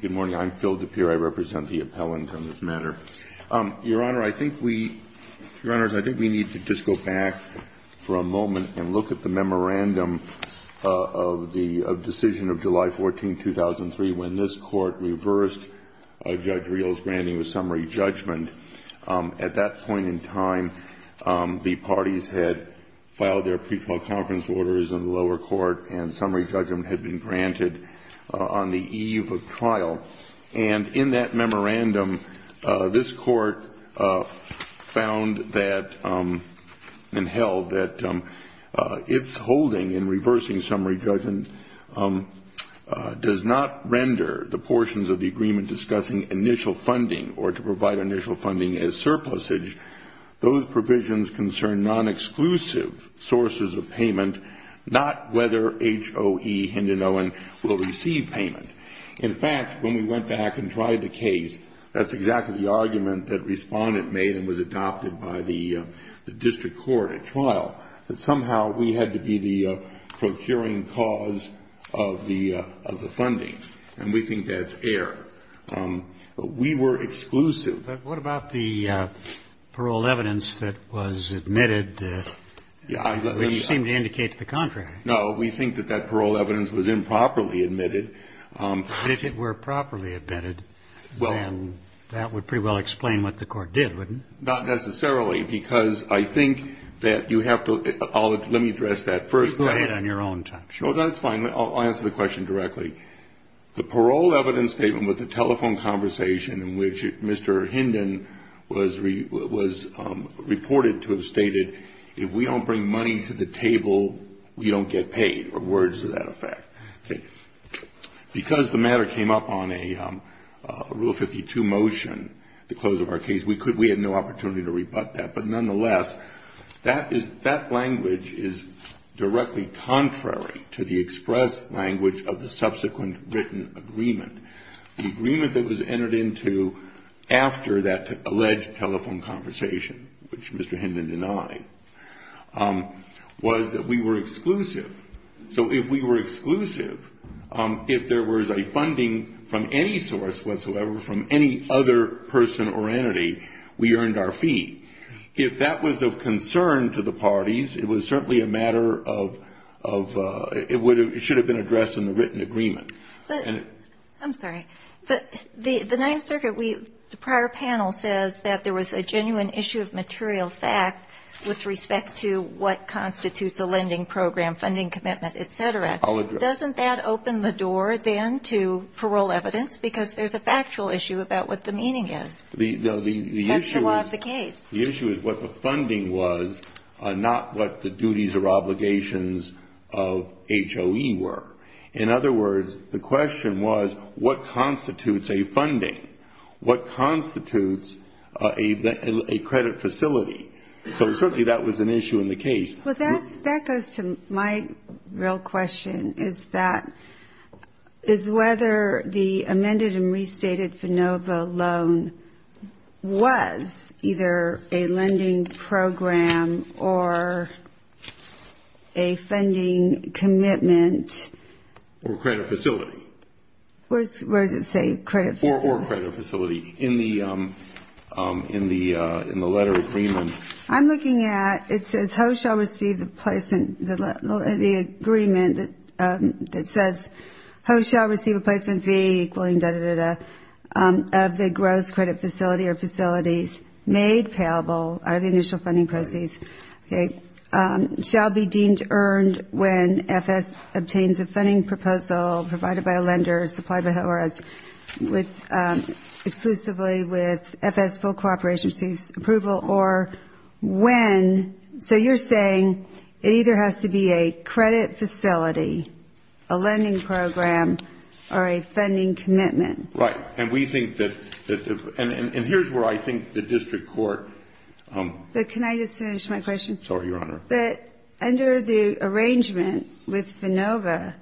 Good morning. I'm Phil DePere. I represent the appellant on this matter. Your Honor, I think we need to just go back for a moment and look at the memorandum of the decision of July 14, 2003, when this Court reversed Judge Rios' granting of summary judgment. At that point in time, the parties had filed their pre-trial conference orders in the lower court and summary judgment had been granted on the eve of trial. And in that memorandum, this Court found that and held that its holding in reversing summary judgment does not render the portions of the agreement discussing initial funding or to provide initial funding as surplusage. Those provisions concern non-exclusive sources of payment, not whether H.O.E. Hinden-Owen will receive payment. In fact, when we went back and tried the case, that's exactly the argument that Respondent made and was adopted by the district court at trial, that somehow we had to be the procuring cause of the funding. And we think that's error. We were exclusive. But what about the parole evidence that was admitted, which seemed to indicate to the contrary? No, we think that that parole evidence was improperly admitted. But if it were properly admitted, then that would pretty well explain what the Court did, wouldn't it? Not necessarily, because I think that you have to – let me address that first. You go ahead on your own time. Sure. That's fine. I'll answer the question directly. The parole evidence statement with the telephone conversation in which Mr. Hinden was reported to have stated, if we don't bring money to the table, we don't get paid, or words to that effect. Okay. Because the matter came up on a Rule 52 motion, the close of our case, we had no opportunity to rebut that. But nonetheless, that language is directly contrary to the express language of the subsequent written agreement. The agreement that was entered into after that alleged telephone conversation, which Mr. Hinden denied, was that we were exclusive. So if we were exclusive, if there was a funding from any source whatsoever, from any other person or entity, we earned our fee. If that was of concern to the parties, it was certainly a matter of – it should have been addressed in the written agreement. I'm sorry. The Ninth Circuit, the prior panel says that there was a genuine issue of material fact with respect to what constitutes a lending program, funding commitment, et cetera. I'll address that. Doesn't that open the door, then, to parole evidence? Because there's a factual issue about what the meaning is. That's the law of the case. The issue is what the funding was, not what the duties or obligations of HOE were. In other words, the question was, what constitutes a funding? What constitutes a credit facility? So certainly that was an issue in the case. Well, that goes to my real question, is whether the amended and restated FANOVA loan was either a lending program or a funding commitment. Or credit facility. Where does it say credit facility? Or credit facility in the letter agreement. I'm looking at – it says, HOE shall receive the placement – the agreement that says, HOE shall receive a placement fee equaling da-da-da-da of the gross credit facility or facilities made payable out of the initial funding proceeds. Okay. Shall be deemed earned when FS obtains a funding proposal provided by a lender supplied by HOE So you're saying it either has to be a credit facility, a lending program, or a funding commitment. Right. And we think that – and here's where I think the district court – But can I just finish my question? Sorry, Your Honor. But under the arrangement with FANOVA,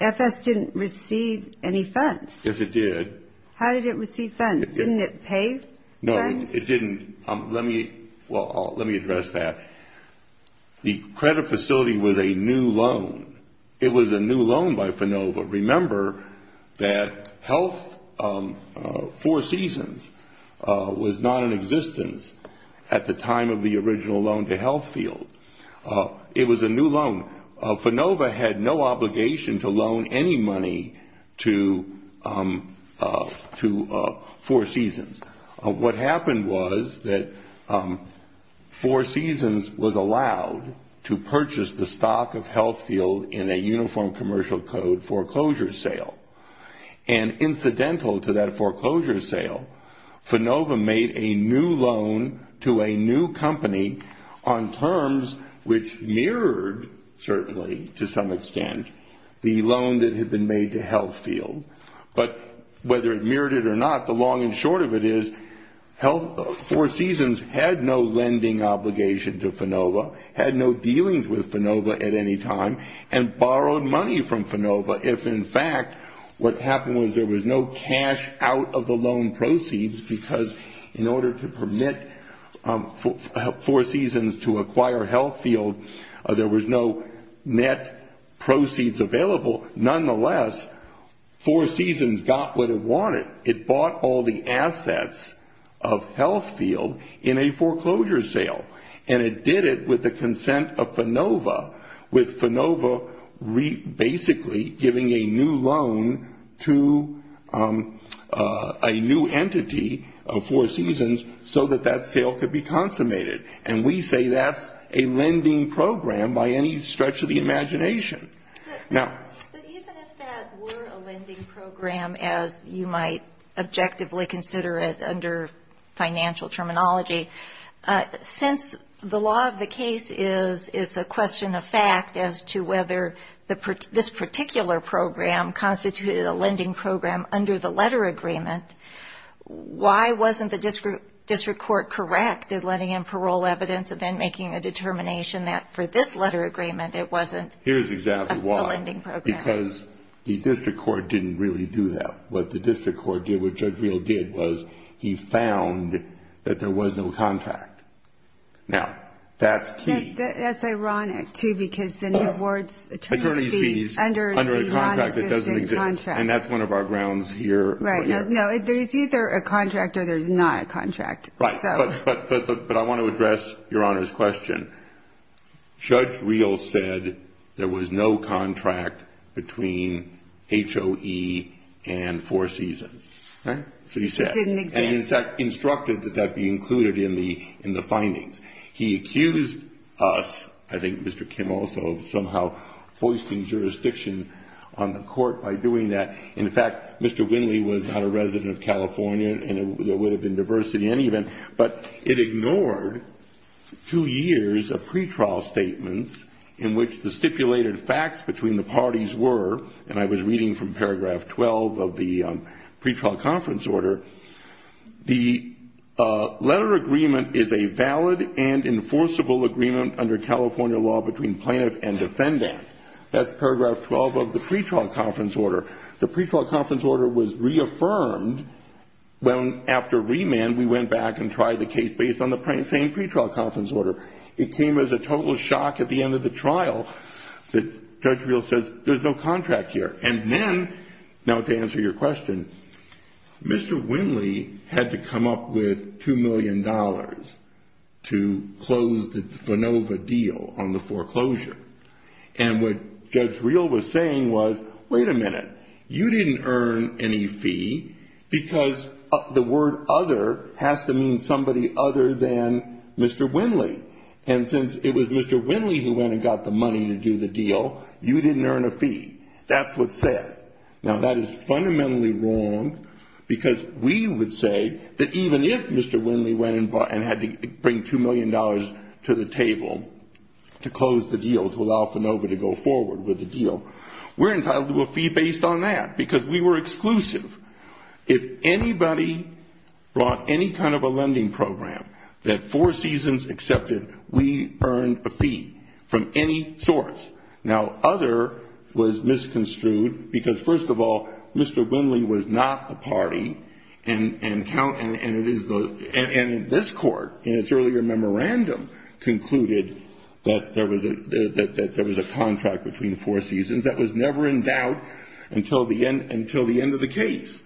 FS didn't receive any funds. Yes, it did. How did it receive funds? Didn't it pay funds? No, it didn't. Let me address that. The credit facility was a new loan. It was a new loan by FANOVA. Remember that Health Four Seasons was not in existence at the time of the original loan to Health Field. It was a new loan. FANOVA had no obligation to loan any money to Four Seasons. What happened was that Four Seasons was allowed to purchase the stock of Health Field in a uniform commercial code foreclosure sale. And incidental to that foreclosure sale, FANOVA made a new loan to a new company on terms which mirrored, certainly to some extent, the loan that had been made to Health Field. But whether it mirrored it or not, the long and short of it is Health Four Seasons had no lending obligation to FANOVA, had no dealings with FANOVA at any time, and borrowed money from FANOVA if, in fact, what happened was there was no cash out of the loan proceeds, because in order to permit Four Seasons to acquire Health Field, there was no net proceeds available. Nonetheless, Four Seasons got what it wanted. It bought all the assets of Health Field in a foreclosure sale, and it did it with the consent of FANOVA, with FANOVA basically giving a new loan to a new entity of Four Seasons so that that sale could be consummated. And we say that's a lending program by any stretch of the imagination. But even if that were a lending program, as you might objectively consider it under financial terminology, since the law of the case is it's a question of fact as to whether this particular program constituted a lending program under the letter agreement, why wasn't the district court correct in letting in parole evidence and then making a determination that for this letter agreement it wasn't? Here's exactly why. It wasn't a lending program. Because the district court didn't really do that. What the district court did, what Judge Reel did, was he found that there was no contract. Now, that's key. That's ironic, too, because then the board's attorney speaks under a non-existing contract. And that's one of our grounds here. Right. No, there's either a contract or there's not a contract. Right. But I want to address Your Honor's question. Judge Reel said there was no contract between HOE and Four Seasons. Right? It didn't exist. And, in fact, instructed that that be included in the findings. He accused us, I think Mr. Kim also, of somehow foisting jurisdiction on the court by doing that. In fact, Mr. Winley was not a resident of California, and there would have been diversity in any event. But it ignored two years of pretrial statements in which the stipulated facts between the parties were, and I was reading from paragraph 12 of the pretrial conference order, the letter agreement is a valid and enforceable agreement under California law between plaintiff and defendant. That's paragraph 12 of the pretrial conference order. The pretrial conference order was reaffirmed after remand. We went back and tried the case based on the same pretrial conference order. It came as a total shock at the end of the trial that Judge Reel says there's no contract here. And then, now to answer your question, Mr. Winley had to come up with $2 million to close the FANOVA deal on the foreclosure. And what Judge Reel was saying was, wait a minute. You didn't earn any fee because the word other has to mean somebody other than Mr. Winley. And since it was Mr. Winley who went and got the money to do the deal, you didn't earn a fee. That's what's said. Now, that is fundamentally wrong because we would say that even if Mr. Winley went and had to bring $2 million to the table to close the deal, to allow FANOVA to go forward with the deal, we're entitled to a fee based on that because we were exclusive. If anybody brought any kind of a lending program that Four Seasons accepted, we earned a fee from any source. Now, other was misconstrued because, first of all, Mr. Winley was not the party, and this Court, in its earlier memorandum, concluded that there was a contract between Four Seasons that was never endowed until the end of the case.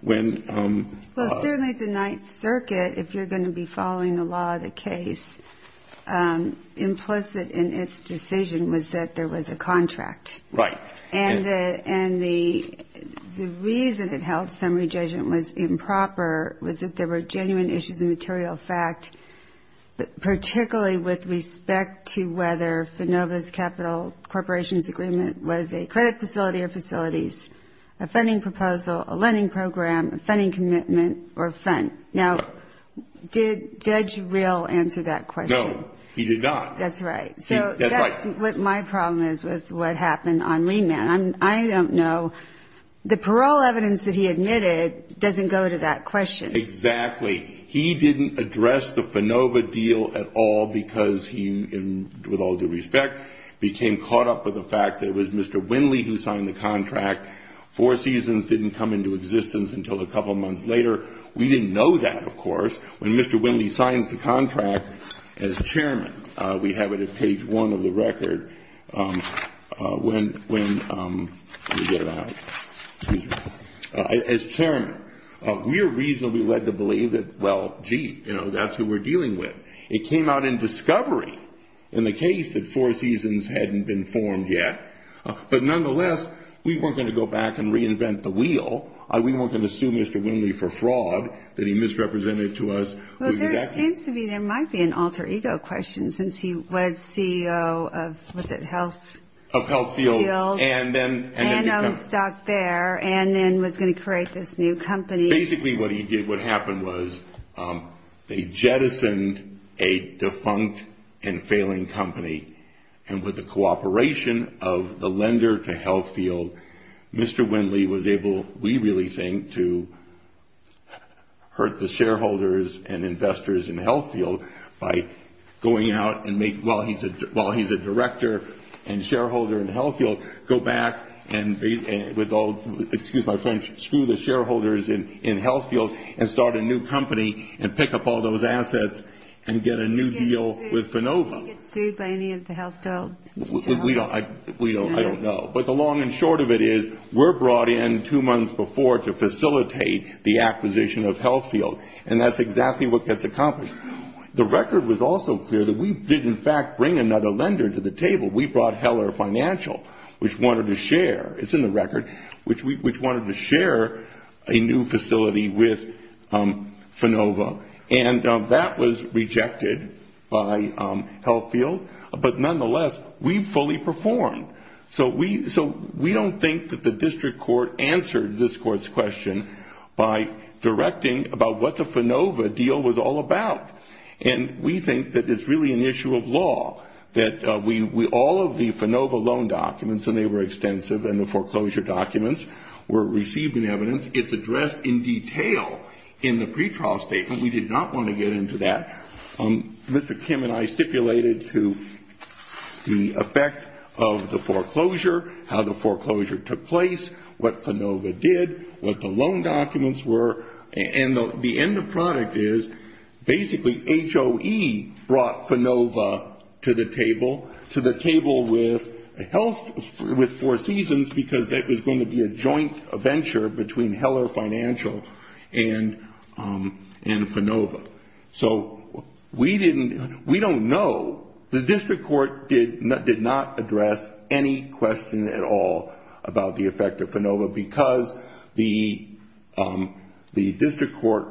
When ---- Well, certainly the Ninth Circuit, if you're going to be following the law of the case, implicit in its decision was that there was a contract. Right. And the reason it held summary judgment was improper was that there were genuine issues of material fact, particularly with respect to whether FANOVA's capital corporations agreement was a credit facility or facilities, a funding proposal, a lending program, a funding commitment, or a fund. Now, did Judge Real answer that question? No, he did not. That's right. That's right. I don't know. The parole evidence that he admitted doesn't go to that question. Exactly. He didn't address the FANOVA deal at all because he, with all due respect, became caught up with the fact that it was Mr. Winley who signed the contract. Four Seasons didn't come into existence until a couple months later. We didn't know that, of course, when Mr. Winley signs the contract as chairman. We have it at page one of the record when we get it out. As chairman, we are reasonably led to believe that, well, gee, you know, that's who we're dealing with. It came out in discovery in the case that Four Seasons hadn't been formed yet. But nonetheless, we weren't going to go back and reinvent the wheel. We weren't going to sue Mr. Winley for fraud that he misrepresented to us. Well, there seems to be, there might be an alter ego question since he was CEO of, was it Health? Of Health Field. And then owned stock there and then was going to create this new company. Basically what he did, what happened was they jettisoned a defunct and failing company. And with the cooperation of the lender to Health Field, Mr. Winley was able, we really think, to hurt the shareholders and investors in Health Field by going out and make, while he's a director and shareholder in Health Field, go back and with all, excuse my French, screw the shareholders in Health Fields and start a new company and pick up all those assets and get a new deal with Finova. Did he get sued by any of the health field shareholders? We don't, I don't know. But the long and short of it is we're brought in two months before to facilitate the acquisition of Health Field. And that's exactly what gets accomplished. The record was also clear that we did in fact bring another lender to the table. We brought Heller Financial, which wanted to share, it's in the record, which wanted to share a new facility with Finova. And that was rejected by Health Field. But nonetheless, we fully performed. So we don't think that the district court answered this court's question by directing about what the Finova deal was all about. And we think that it's really an issue of law, that all of the Finova loan documents, and they were extensive, and the foreclosure documents were received in evidence. It's addressed in detail in the pretrial statement. We did not want to get into that. Mr. Kim and I stipulated to the effect of the foreclosure, how the foreclosure took place, what Finova did, what the loan documents were. And the end product is basically HOE brought Finova to the table, to the table with Health, with Four Seasons, because that was going to be a joint venture between Heller Financial and Finova. So we didn't, we don't know. The district court did not address any question at all about the effect of Finova, because the district court,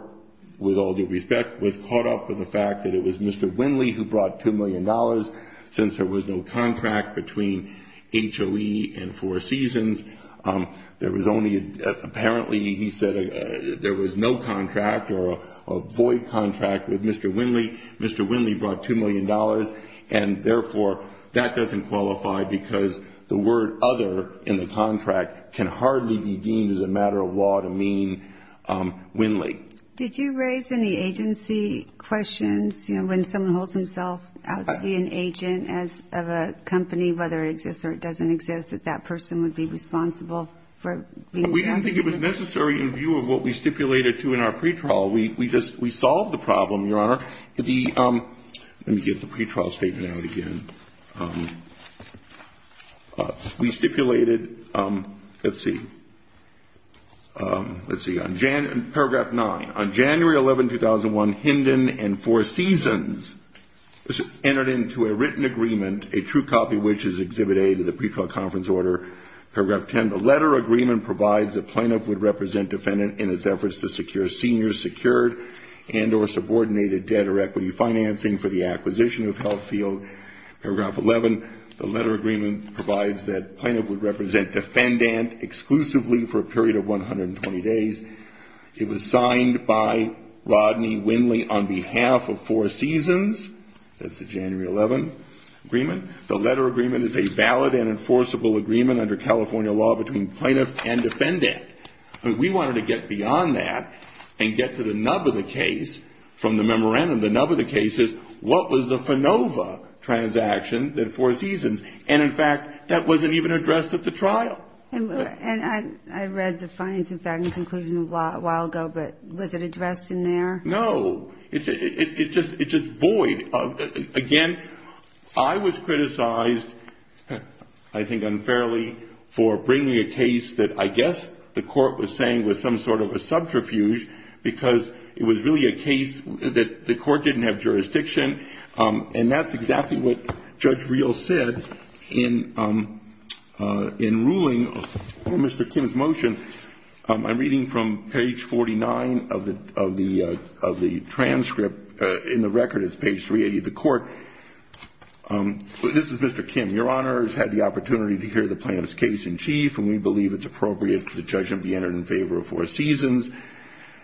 with all due respect, was caught up with the fact that it was Mr. Winley who brought $2 million. Since there was no contract between HOE and Four Seasons, there was only, apparently he said there was no contract or a void contract with Mr. Winley. Mr. Winley brought $2 million, and therefore that doesn't qualify, because the word other in the contract can hardly be deemed as a matter of law to mean Winley. Did you raise any agency questions? You know, when someone holds himself out to be an agent of a company, whether it exists or it doesn't exist, that that person would be responsible for being held? We don't think it was necessary in view of what we stipulated, too, in our pretrial. We just, we solved the problem, Your Honor. The, let me get the pretrial statement out again. We stipulated, let's see, let's see, on paragraph 9. On January 11, 2001, Hinden and Four Seasons entered into a written agreement, a true copy of which is exhibit A to the pretrial conference order. Paragraph 10, the letter agreement provides that Planoff would represent defendant in its efforts to secure senior secured and or subordinated debt or equity financing for the acquisition of Health Field. Paragraph 11, the letter agreement provides that Planoff would represent defendant exclusively for a period of 120 days. It was signed by Rodney Winley on behalf of Four Seasons. That's the January 11 agreement. The letter agreement is a valid and enforceable agreement under California law between Planoff and defendant. We wanted to get beyond that and get to the nub of the case from the memorandum. The nub of the case is what was the FANOVA transaction that Four Seasons, and, in fact, that wasn't even addressed at the trial. And I read the fines in fact in conclusion a while ago, but was it addressed in there? No. It's just void. Again, I was criticized, I think unfairly, for bringing a case that I guess the court was saying was some sort of a subterfuge because it was really a case that the court didn't have jurisdiction, and that's exactly what Judge Reel said in ruling on Mr. Kim's motion. I'm reading from page 49 of the transcript. In the record, it's page 380. The court, this is Mr. Kim. Your Honor has had the opportunity to hear the Planoff's case in chief, and we believe it's appropriate for the judge to be entered in favor of Four Seasons.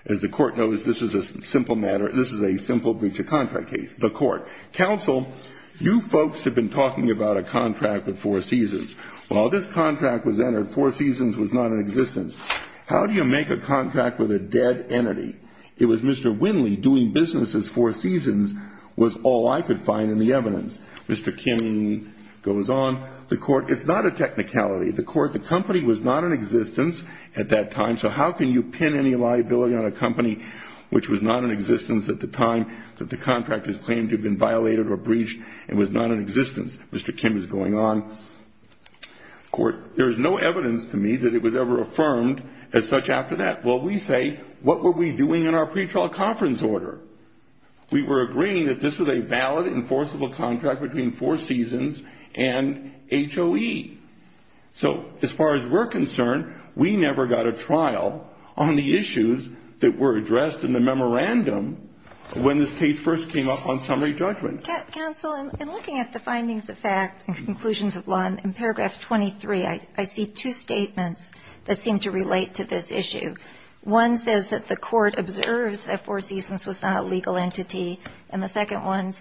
As the court knows, this is a simple breach of contract case. The court. Counsel, you folks have been talking about a contract with Four Seasons. Well, this contract was entered. Four Seasons was not in existence. How do you make a contract with a dead entity? It was Mr. Winley doing business as Four Seasons was all I could find in the evidence. Mr. Kim goes on. The court. It's not a technicality. The court. The company was not in existence at that time, so how can you pin any liability on a company which was not in existence at the time that the contract is claimed to have been violated or breached and was not in existence? Mr. Kim is going on. The court. There is no evidence to me that it was ever affirmed as such after that. Well, we say, what were we doing in our pretrial conference order? We were agreeing that this was a valid enforceable contract between Four Seasons and HOE. So as far as we're concerned, we never got a trial on the issues that were addressed in the memorandum when this case first came up on summary judgment. Counsel, in looking at the findings of fact and conclusions of law in paragraph 23, I see two statements that seem to relate to this issue. One says that the court observes that Four Seasons was not a legal entity, and the second one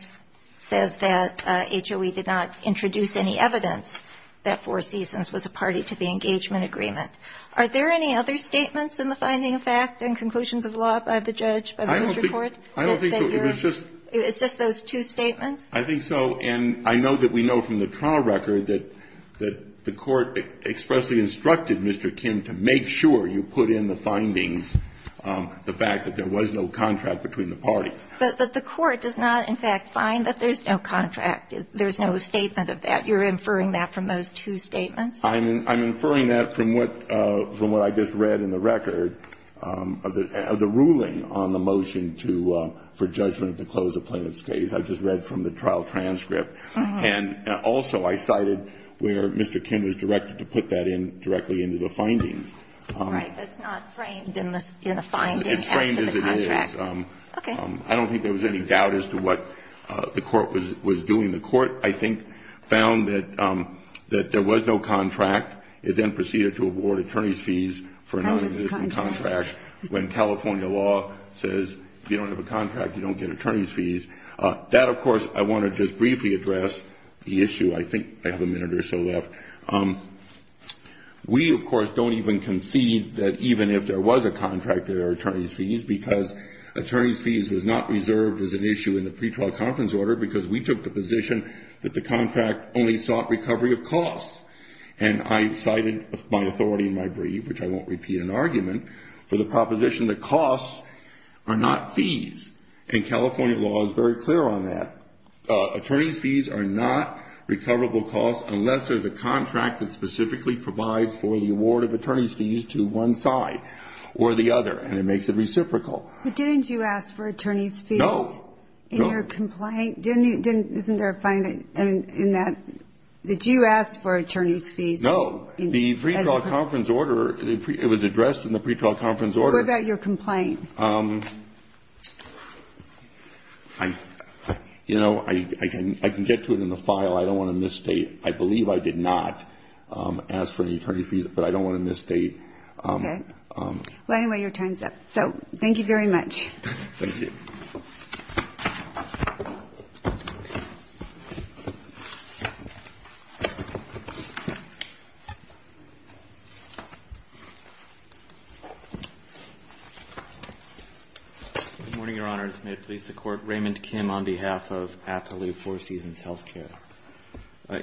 says that HOE did not introduce any evidence that Four Seasons was a party to the engagement agreement. Are there any other statements in the finding of fact and conclusions of law by the judge, by the district court? I don't think so. It's just those two statements? I think so. And I know that we know from the trial record that the court expressly instructed Mr. Kim to make sure you put in the findings the fact that there was no contract between the parties. But the court does not, in fact, find that there's no contract. There's no statement of that. You're inferring that from those two statements? I'm inferring that from what I just read in the record of the ruling on the motion to for judgment to close a plaintiff's case. I just read from the trial transcript. And also I cited where Mr. Kim was directed to put that in directly into the findings. All right. But it's not framed in the finding as to the contract. It's framed as it is. Okay. I don't think there was any doubt as to what the court was doing. The court, I think, found that there was no contract. It then proceeded to award attorney's fees for a nonexistent contract when California law says if you don't have a contract, you don't get attorney's fees. That, of course, I want to just briefly address the issue. I think I have a minute or so left. We, of course, don't even concede that even if there was a contract, there are attorney's fees because attorney's fees was not reserved as an issue in the pre-trial conference order because we took the position that the contract only sought recovery of costs. And I cited my authority in my brief, which I won't repeat in argument, for the proposition that costs are not fees. And California law is very clear on that. Attorney's fees are not recoverable costs unless there's a contract that specifically provides for the award of attorney's fees to one side or the other. And it makes it reciprocal. But didn't you ask for attorney's fees? No. In your complaint? Isn't there a finding in that that you asked for attorney's fees? No. The pre-trial conference order, it was addressed in the pre-trial conference order. What about your complaint? You know, I can get to it in the file. I don't want to misstate. I believe I did not ask for any attorney's fees, but I don't want to misstate. Okay. Well, anyway, your time's up. So thank you very much. Thank you. Good morning, Your Honors. May it please the Court. Raymond Kim on behalf of Appaloo Four Seasons Healthcare.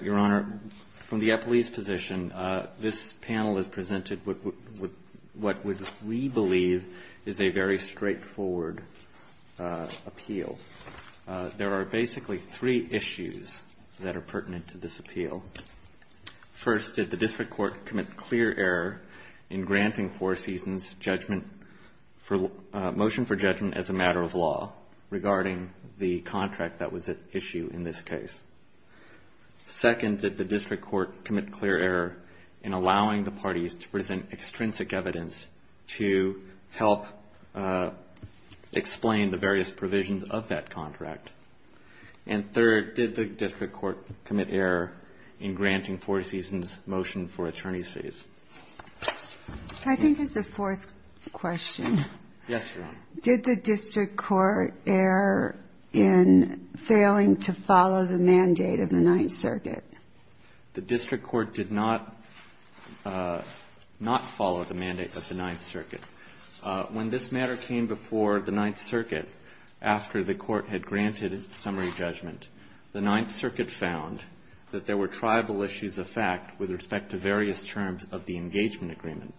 Your Honor, from the Appaloo's position, this panel has presented what we believe is a very straightforward appeal. There are basically three issues that are pertinent to this appeal. First, did the district court commit clear error in granting Four Seasons judgment for motion for judgment as a matter of law regarding the contract that was at issue in this case? Second, did the district court commit clear error in allowing the parties to present extrinsic evidence to help explain the various provisions of that contract? And third, did the district court commit error in granting Four Seasons motion for attorney's fees? I think there's a fourth question. Yes, Your Honor. Did the district court err in failing to follow the mandate of the Ninth Circuit? The district court did not follow the mandate of the Ninth Circuit. When this matter came before the Ninth Circuit, after the court had granted summary judgment, the Ninth Circuit found that there were tribal issues of fact with respect to various terms of the engagement agreement.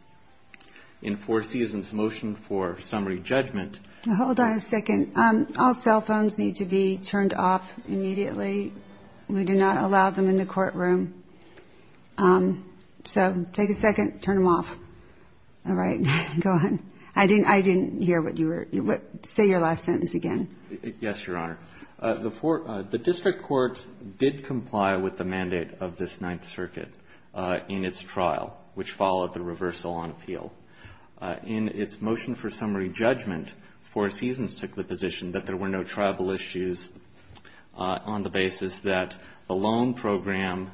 In Four Seasons motion for summary judgment ---- Hold on a second. All cell phones need to be turned off immediately. We do not allow them in the courtroom. So take a second, turn them off. All right. Go ahead. I didn't hear what you were ---- say your last sentence again. Yes, Your Honor. The district court did comply with the mandate of this Ninth Circuit in its trial, which followed the reversal on appeal. In its motion for summary judgment, Four Seasons took the position that there were no tribal issues on the basis that the loan program,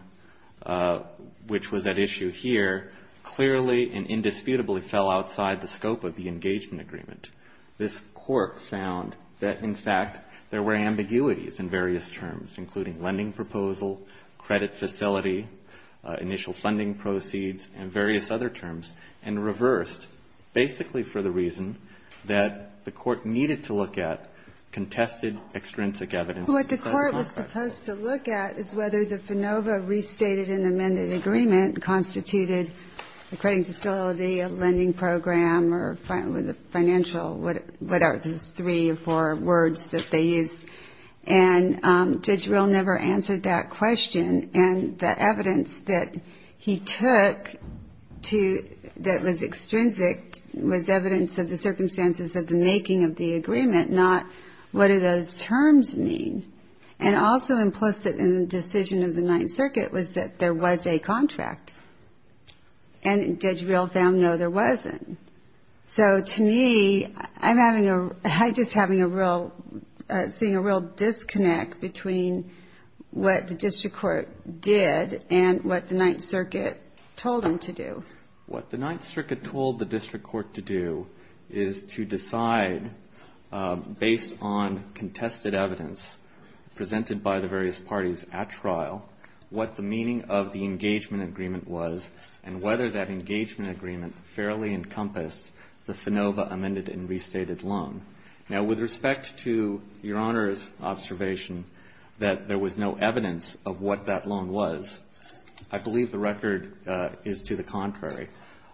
which was at issue here, clearly and indisputably fell outside the scope of the engagement agreement. This court found that, in fact, there were ambiguities in various terms, including lending proposal, credit facility, initial funding proceeds, and various other terms, and reversed basically for the reason that the court needed to look at contested extrinsic evidence. What the court was supposed to look at is whether the FANOVA restated and amended agreement constituted a credit facility, a lending program, or financial, whatever those three or four words that they used. And Judge Rill never answered that question. And the evidence that he took that was extrinsic was evidence of the circumstances of the making of the agreement, not what do those terms mean. And also implicit in the decision of the Ninth Circuit was that there was a contract. And Judge Rill found, no, there wasn't. So to me, I'm having a real ‑‑ I'm just having a real ‑‑ seeing a real disconnect between what the district court did and what the Ninth Circuit told them to do. What the Ninth Circuit told the district court to do is to decide, based on contested evidence presented by the various parties at trial, what the meaning of the engagement agreement was and whether that engagement agreement fairly encompassed the FANOVA amended and restated loan. Now, with respect to Your Honor's observation that there was no evidence of what that loan was, I believe the record is to the contrary.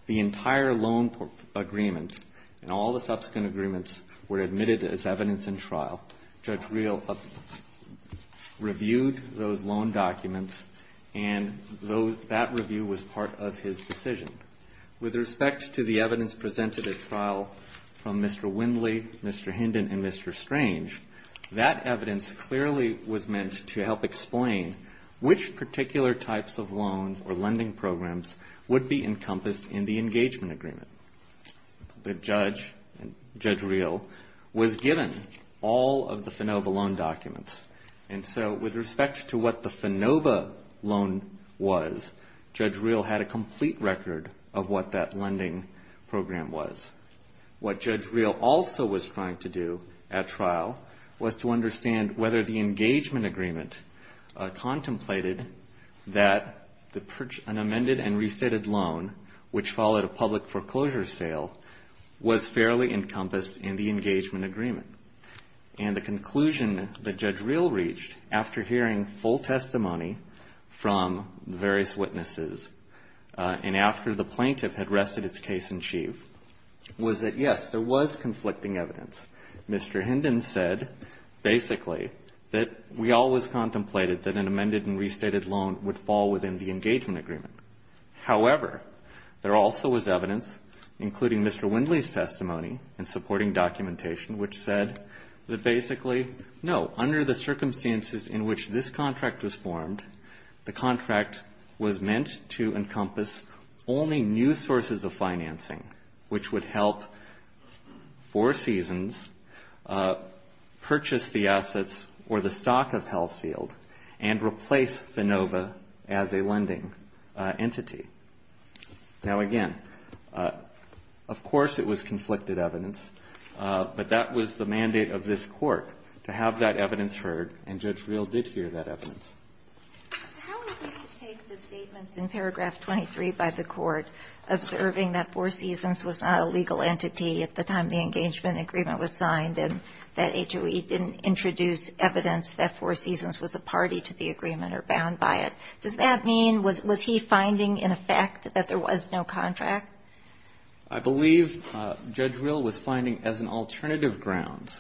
The entire loan agreement and all the subsequent agreements were admitted as evidence in trial. Judge Rill reviewed those loan documents, and that review was part of his decision. With respect to the evidence presented at trial from Mr. Windley, Mr. Hinden, and Mr. Strange, that evidence clearly was meant to help explain which particular types of loans or lending programs would be encompassed in the engagement agreement. The judge, Judge Rill, was given all of the FANOVA loan documents, and so with respect to what the FANOVA loan was, Judge Rill had a complete record of what that lending program was. What Judge Rill also was trying to do at trial was to understand whether the engagement agreement contemplated that an amended and restated loan, which followed a public foreclosure sale, was fairly encompassed in the engagement agreement. And the conclusion that Judge Rill reached after hearing full testimony from the various witnesses and after the plaintiff had rested its case in chief was that, yes, there was conflicting evidence. Mr. Hinden said, basically, that we always contemplated that an amended and restated loan would fall within the engagement agreement. However, there also was evidence, including Mr. Windley's testimony in supporting documentation, which said that basically, no, under the circumstances in which this contract was formed, the contract was meant to encompass only new sources of financing, which would help Four Seasons purchase the assets or the stock of Health Field and replace FANOVA as a lending entity. Now, again, of course, it was conflicted evidence, but that was the mandate of this Court, to have that evidence heard, and Judge Rill did hear that evidence. How would you take the statements in paragraph 23 by the Court observing that Four Seasons was not a legal entity at the time the engagement agreement was signed and that HOE didn't introduce evidence that Four Seasons was a party to the agreement or bound by it? Does that mean, was he finding, in effect, that there was no contract? I believe Judge Rill was finding as an alternative ground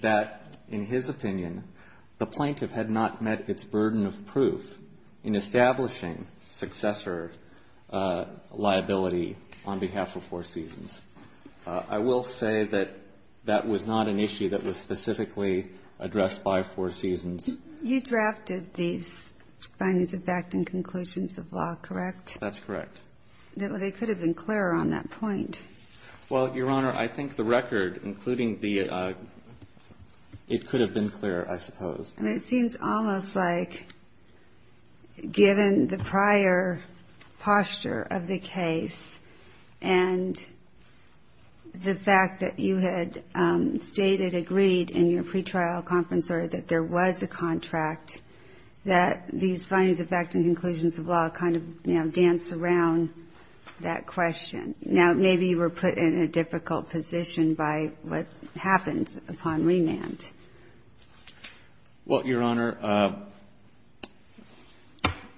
that, in his opinion, the plaintiff had not met its burden of proof in establishing successor liability on behalf of Four Seasons. I will say that that was not an issue that was specifically addressed by Four Seasons. You drafted these findings of fact and conclusions of law, correct? That's correct. They could have been clearer on that point. Well, Your Honor, I think the record, including the, it could have been clearer, I suppose. And it seems almost like, given the prior posture of the case and the fact that you had stated, agreed in your pretrial conference, or that there was a contract, that these findings of fact and conclusions of law kind of, you know, dance around that question. Now, maybe you were put in a difficult position by what happened upon remand. Well, Your Honor,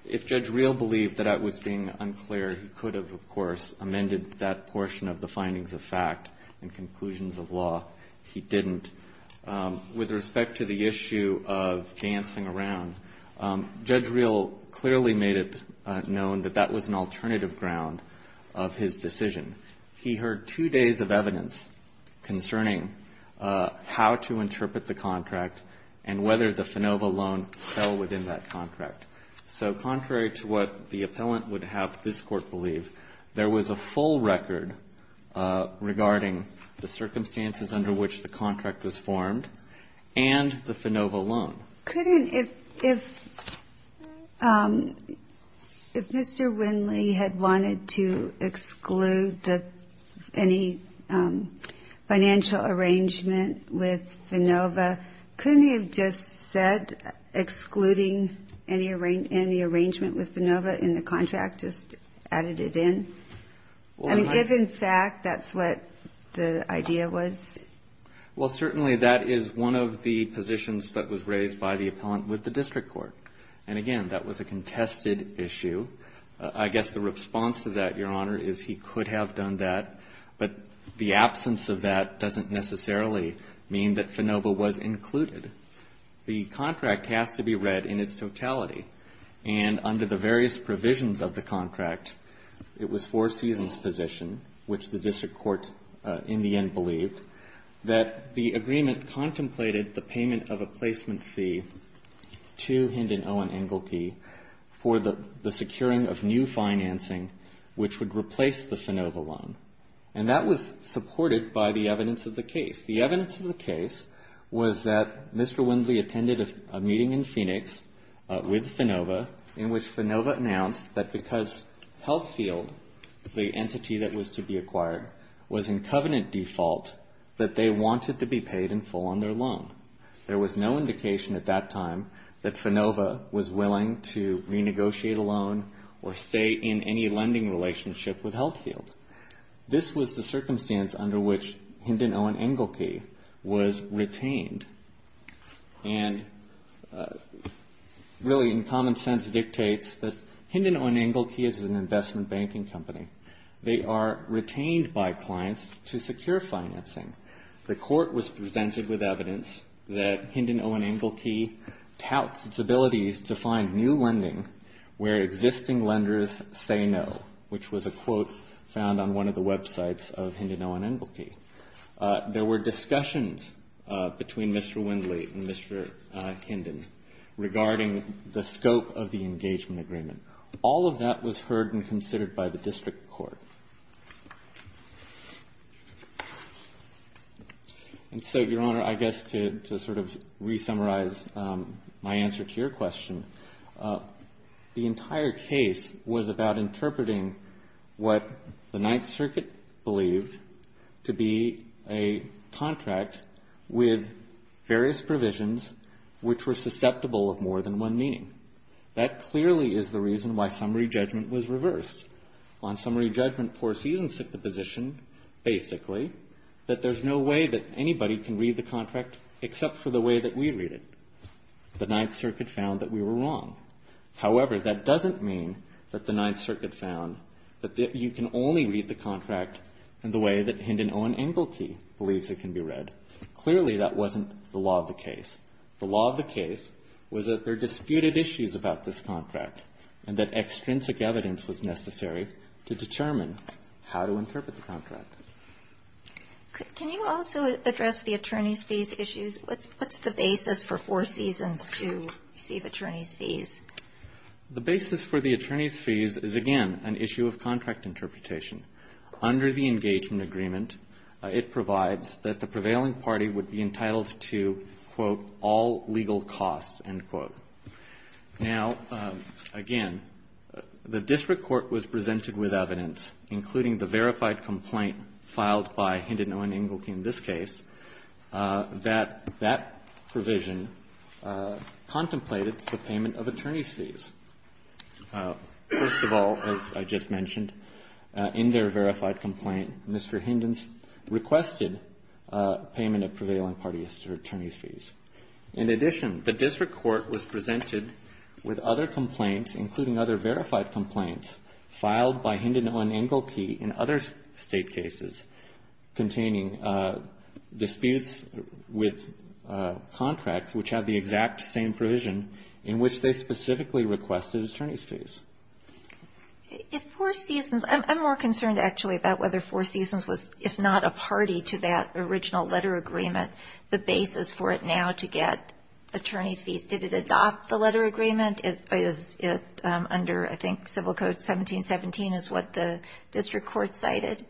if Judge Rill believed that that was being unclear, he could have, of course, amended that portion of the findings of fact and conclusions of law. He didn't. With respect to the issue of dancing around, Judge Rill clearly made it known that that was an alternative ground of his decision. He heard two days of evidence concerning how to interpret the contract and whether the FANOVA loan fell within that contract. So contrary to what the appellant would have this Court believe, there was a full record regarding the circumstances under which the contract was formed and the FANOVA loan. Couldn't, if Mr. Winley had wanted to exclude any financial arrangement with FANOVA, couldn't he have just said, excluding any arrangement with FANOVA in the contract, just added it in? I mean, given fact, that's what the idea was? Well, certainly that is one of the positions that was raised by the appellant with the district court. And again, that was a contested issue. I guess the response to that, Your Honor, is he could have done that, but the absence of that doesn't necessarily mean that FANOVA was included. The contract has to be read in its totality, and under the various provisions of the contract, it was Four Seasons' position, which the district court in the end believed, that the agreement contemplated the payment of a placement fee to Hind and Owen Engelke for the securing of new financing, which would replace the FANOVA loan. And that was supported by the evidence of the case. The evidence of the case was that Mr. Winley attended a meeting in Phoenix with FANOVA, in which FANOVA announced that because Healthfield, the entity that was to be paid in full on their loan. There was no indication at that time that FANOVA was willing to renegotiate a loan or stay in any lending relationship with Healthfield. This was the circumstance under which Hind and Owen Engelke was retained. And really, in common sense, dictates that Hind and Owen Engelke is an investment banking company. They are retained by clients to secure financing. The court was presented with evidence that Hind and Owen Engelke touts its abilities to find new lending where existing lenders say no, which was a quote found on one of the websites of Hind and Owen Engelke. There were discussions between Mr. Winley and Mr. Hinden regarding the scope of the engagement agreement. All of that was heard and considered by the district court. And so, Your Honor, I guess to sort of resummarize my answer to your question, the entire case was about interpreting what the Ninth Circuit believed to be a contract with various provisions which were susceptible of more than one meaning. That clearly is the reason why summary judgment was reversed. On summary judgment, poor season set the position, basically, that there's no way that anybody can read the contract except for the way that we read it. The Ninth Circuit found that we were wrong. However, that doesn't mean that the Ninth Circuit found that you can only read the contract in the way that Hind and Owen Engelke believes it can be read. Clearly, that wasn't the law of the case. The law of the case was that there are disputed issues about this contract and that extrinsic evidence was necessary to determine how to interpret the contract. Can you also address the attorney's fees issues? What's the basis for poor seasons to receive attorney's fees? The basis for the attorney's fees is, again, an issue of contract interpretation. Under the engagement agreement, it provides that the prevailing party would be entitled to, quote, all legal costs, end quote. Now, again, the district court was presented with evidence, including the verified complaint filed by Hind and Owen Engelke in this case, that that provision contemplated the payment of attorney's fees. First of all, as I just mentioned, in their verified complaint, Mr. Hinden's payment of prevailing party attorney's fees. In addition, the district court was presented with other complaints, including other verified complaints filed by Hind and Owen Engelke in other State cases containing disputes with contracts which have the exact same provision in which they specifically requested attorney's fees. If poor seasons – I'm more concerned, actually, about whether poor seasons was, if not a party to that original letter agreement, the basis for it now to get attorney's fees. Did it adopt the letter agreement? Is it under, I think, Civil Code 1717 is what the district court cited?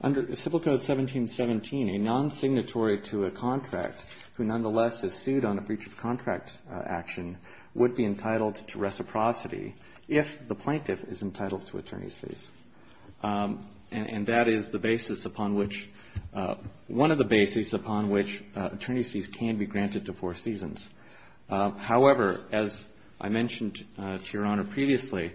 Under Civil Code 1717, a non-signatory to a contract who nonetheless is sued on a breach of contract action would be entitled to reciprocity if the plaintiff is entitled to attorney's fees. And that is the basis upon which – one of the bases upon which attorney's fees can be granted to poor seasons. However, as I mentioned to Your Honor previously,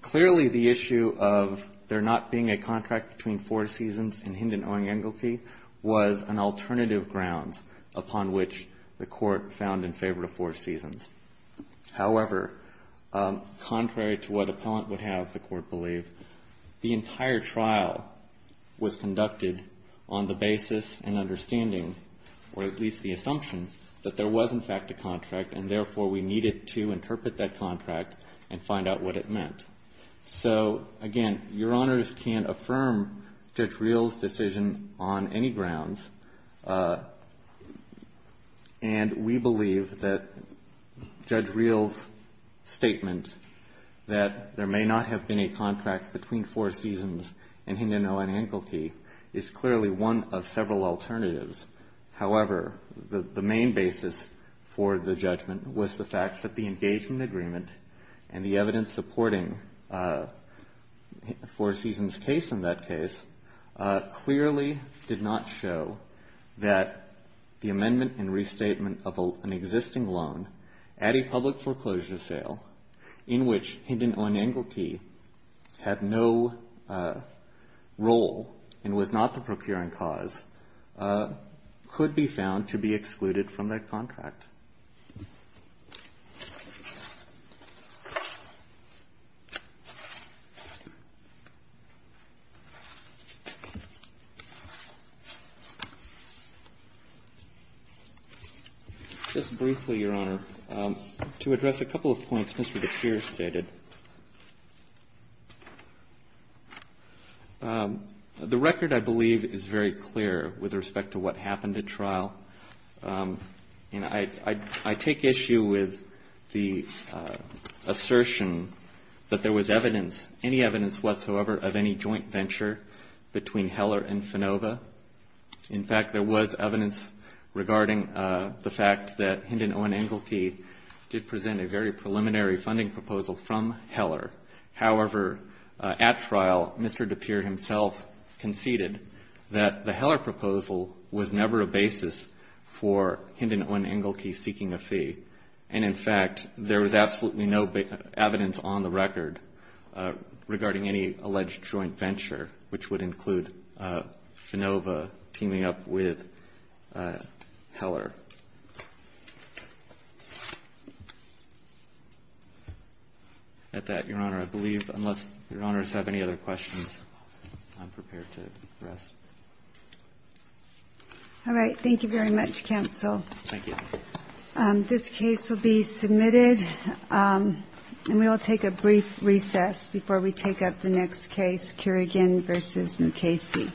clearly the issue of there not being a contract between poor seasons and Hind and Owen Engelke was an alternative grounds upon which the court found in favor of poor seasons. However, contrary to what appellant would have the court believe, the entire trial was conducted on the basis and understanding, or at least the assumption, that there was, in fact, a contract and, therefore, we needed to interpret that contract and find out what it meant. So, again, Your Honors can't affirm Judge Reel's decision on any grounds. And we believe that Judge Reel's statement that there may not have been a contract between poor seasons and Hind and Owen Engelke is clearly one of several alternatives. However, the main basis for the judgment was the fact that the engagement agreement and the evidence supporting Poor Seasons' case in that case clearly did not show that the amendment and restatement of an existing loan at a public foreclosure sale in which Hind and Owen Engelke had no role and was not the procuring cause could be found to be excluded from that contract. Just briefly, Your Honor, to address a couple of points Mr. DePierre stated, the record, I believe, is very clear with respect to what happened at trial. I take issue with the assertion that there was evidence, any evidence whatsoever, of any joint venture between Heller and Finova. In fact, there was evidence regarding the fact that Hind and Owen Engelke did present a very preliminary funding proposal from Heller. However, at trial, Mr. DePierre himself conceded that the Heller proposal was never a basis for Hind and Owen Engelke seeking a fee, and in fact, there was absolutely no evidence on the record regarding any alleged joint venture, which would include Finova teaming up with Heller. At that, Your Honor, I believe, unless Your Honors have any other questions, I'm prepared to rest. All right. Thank you very much, counsel. Thank you. This case will be submitted, and we will take a brief recess before we take up the next case, Kerrigan v. Mukasey. Thank you, Your Honor.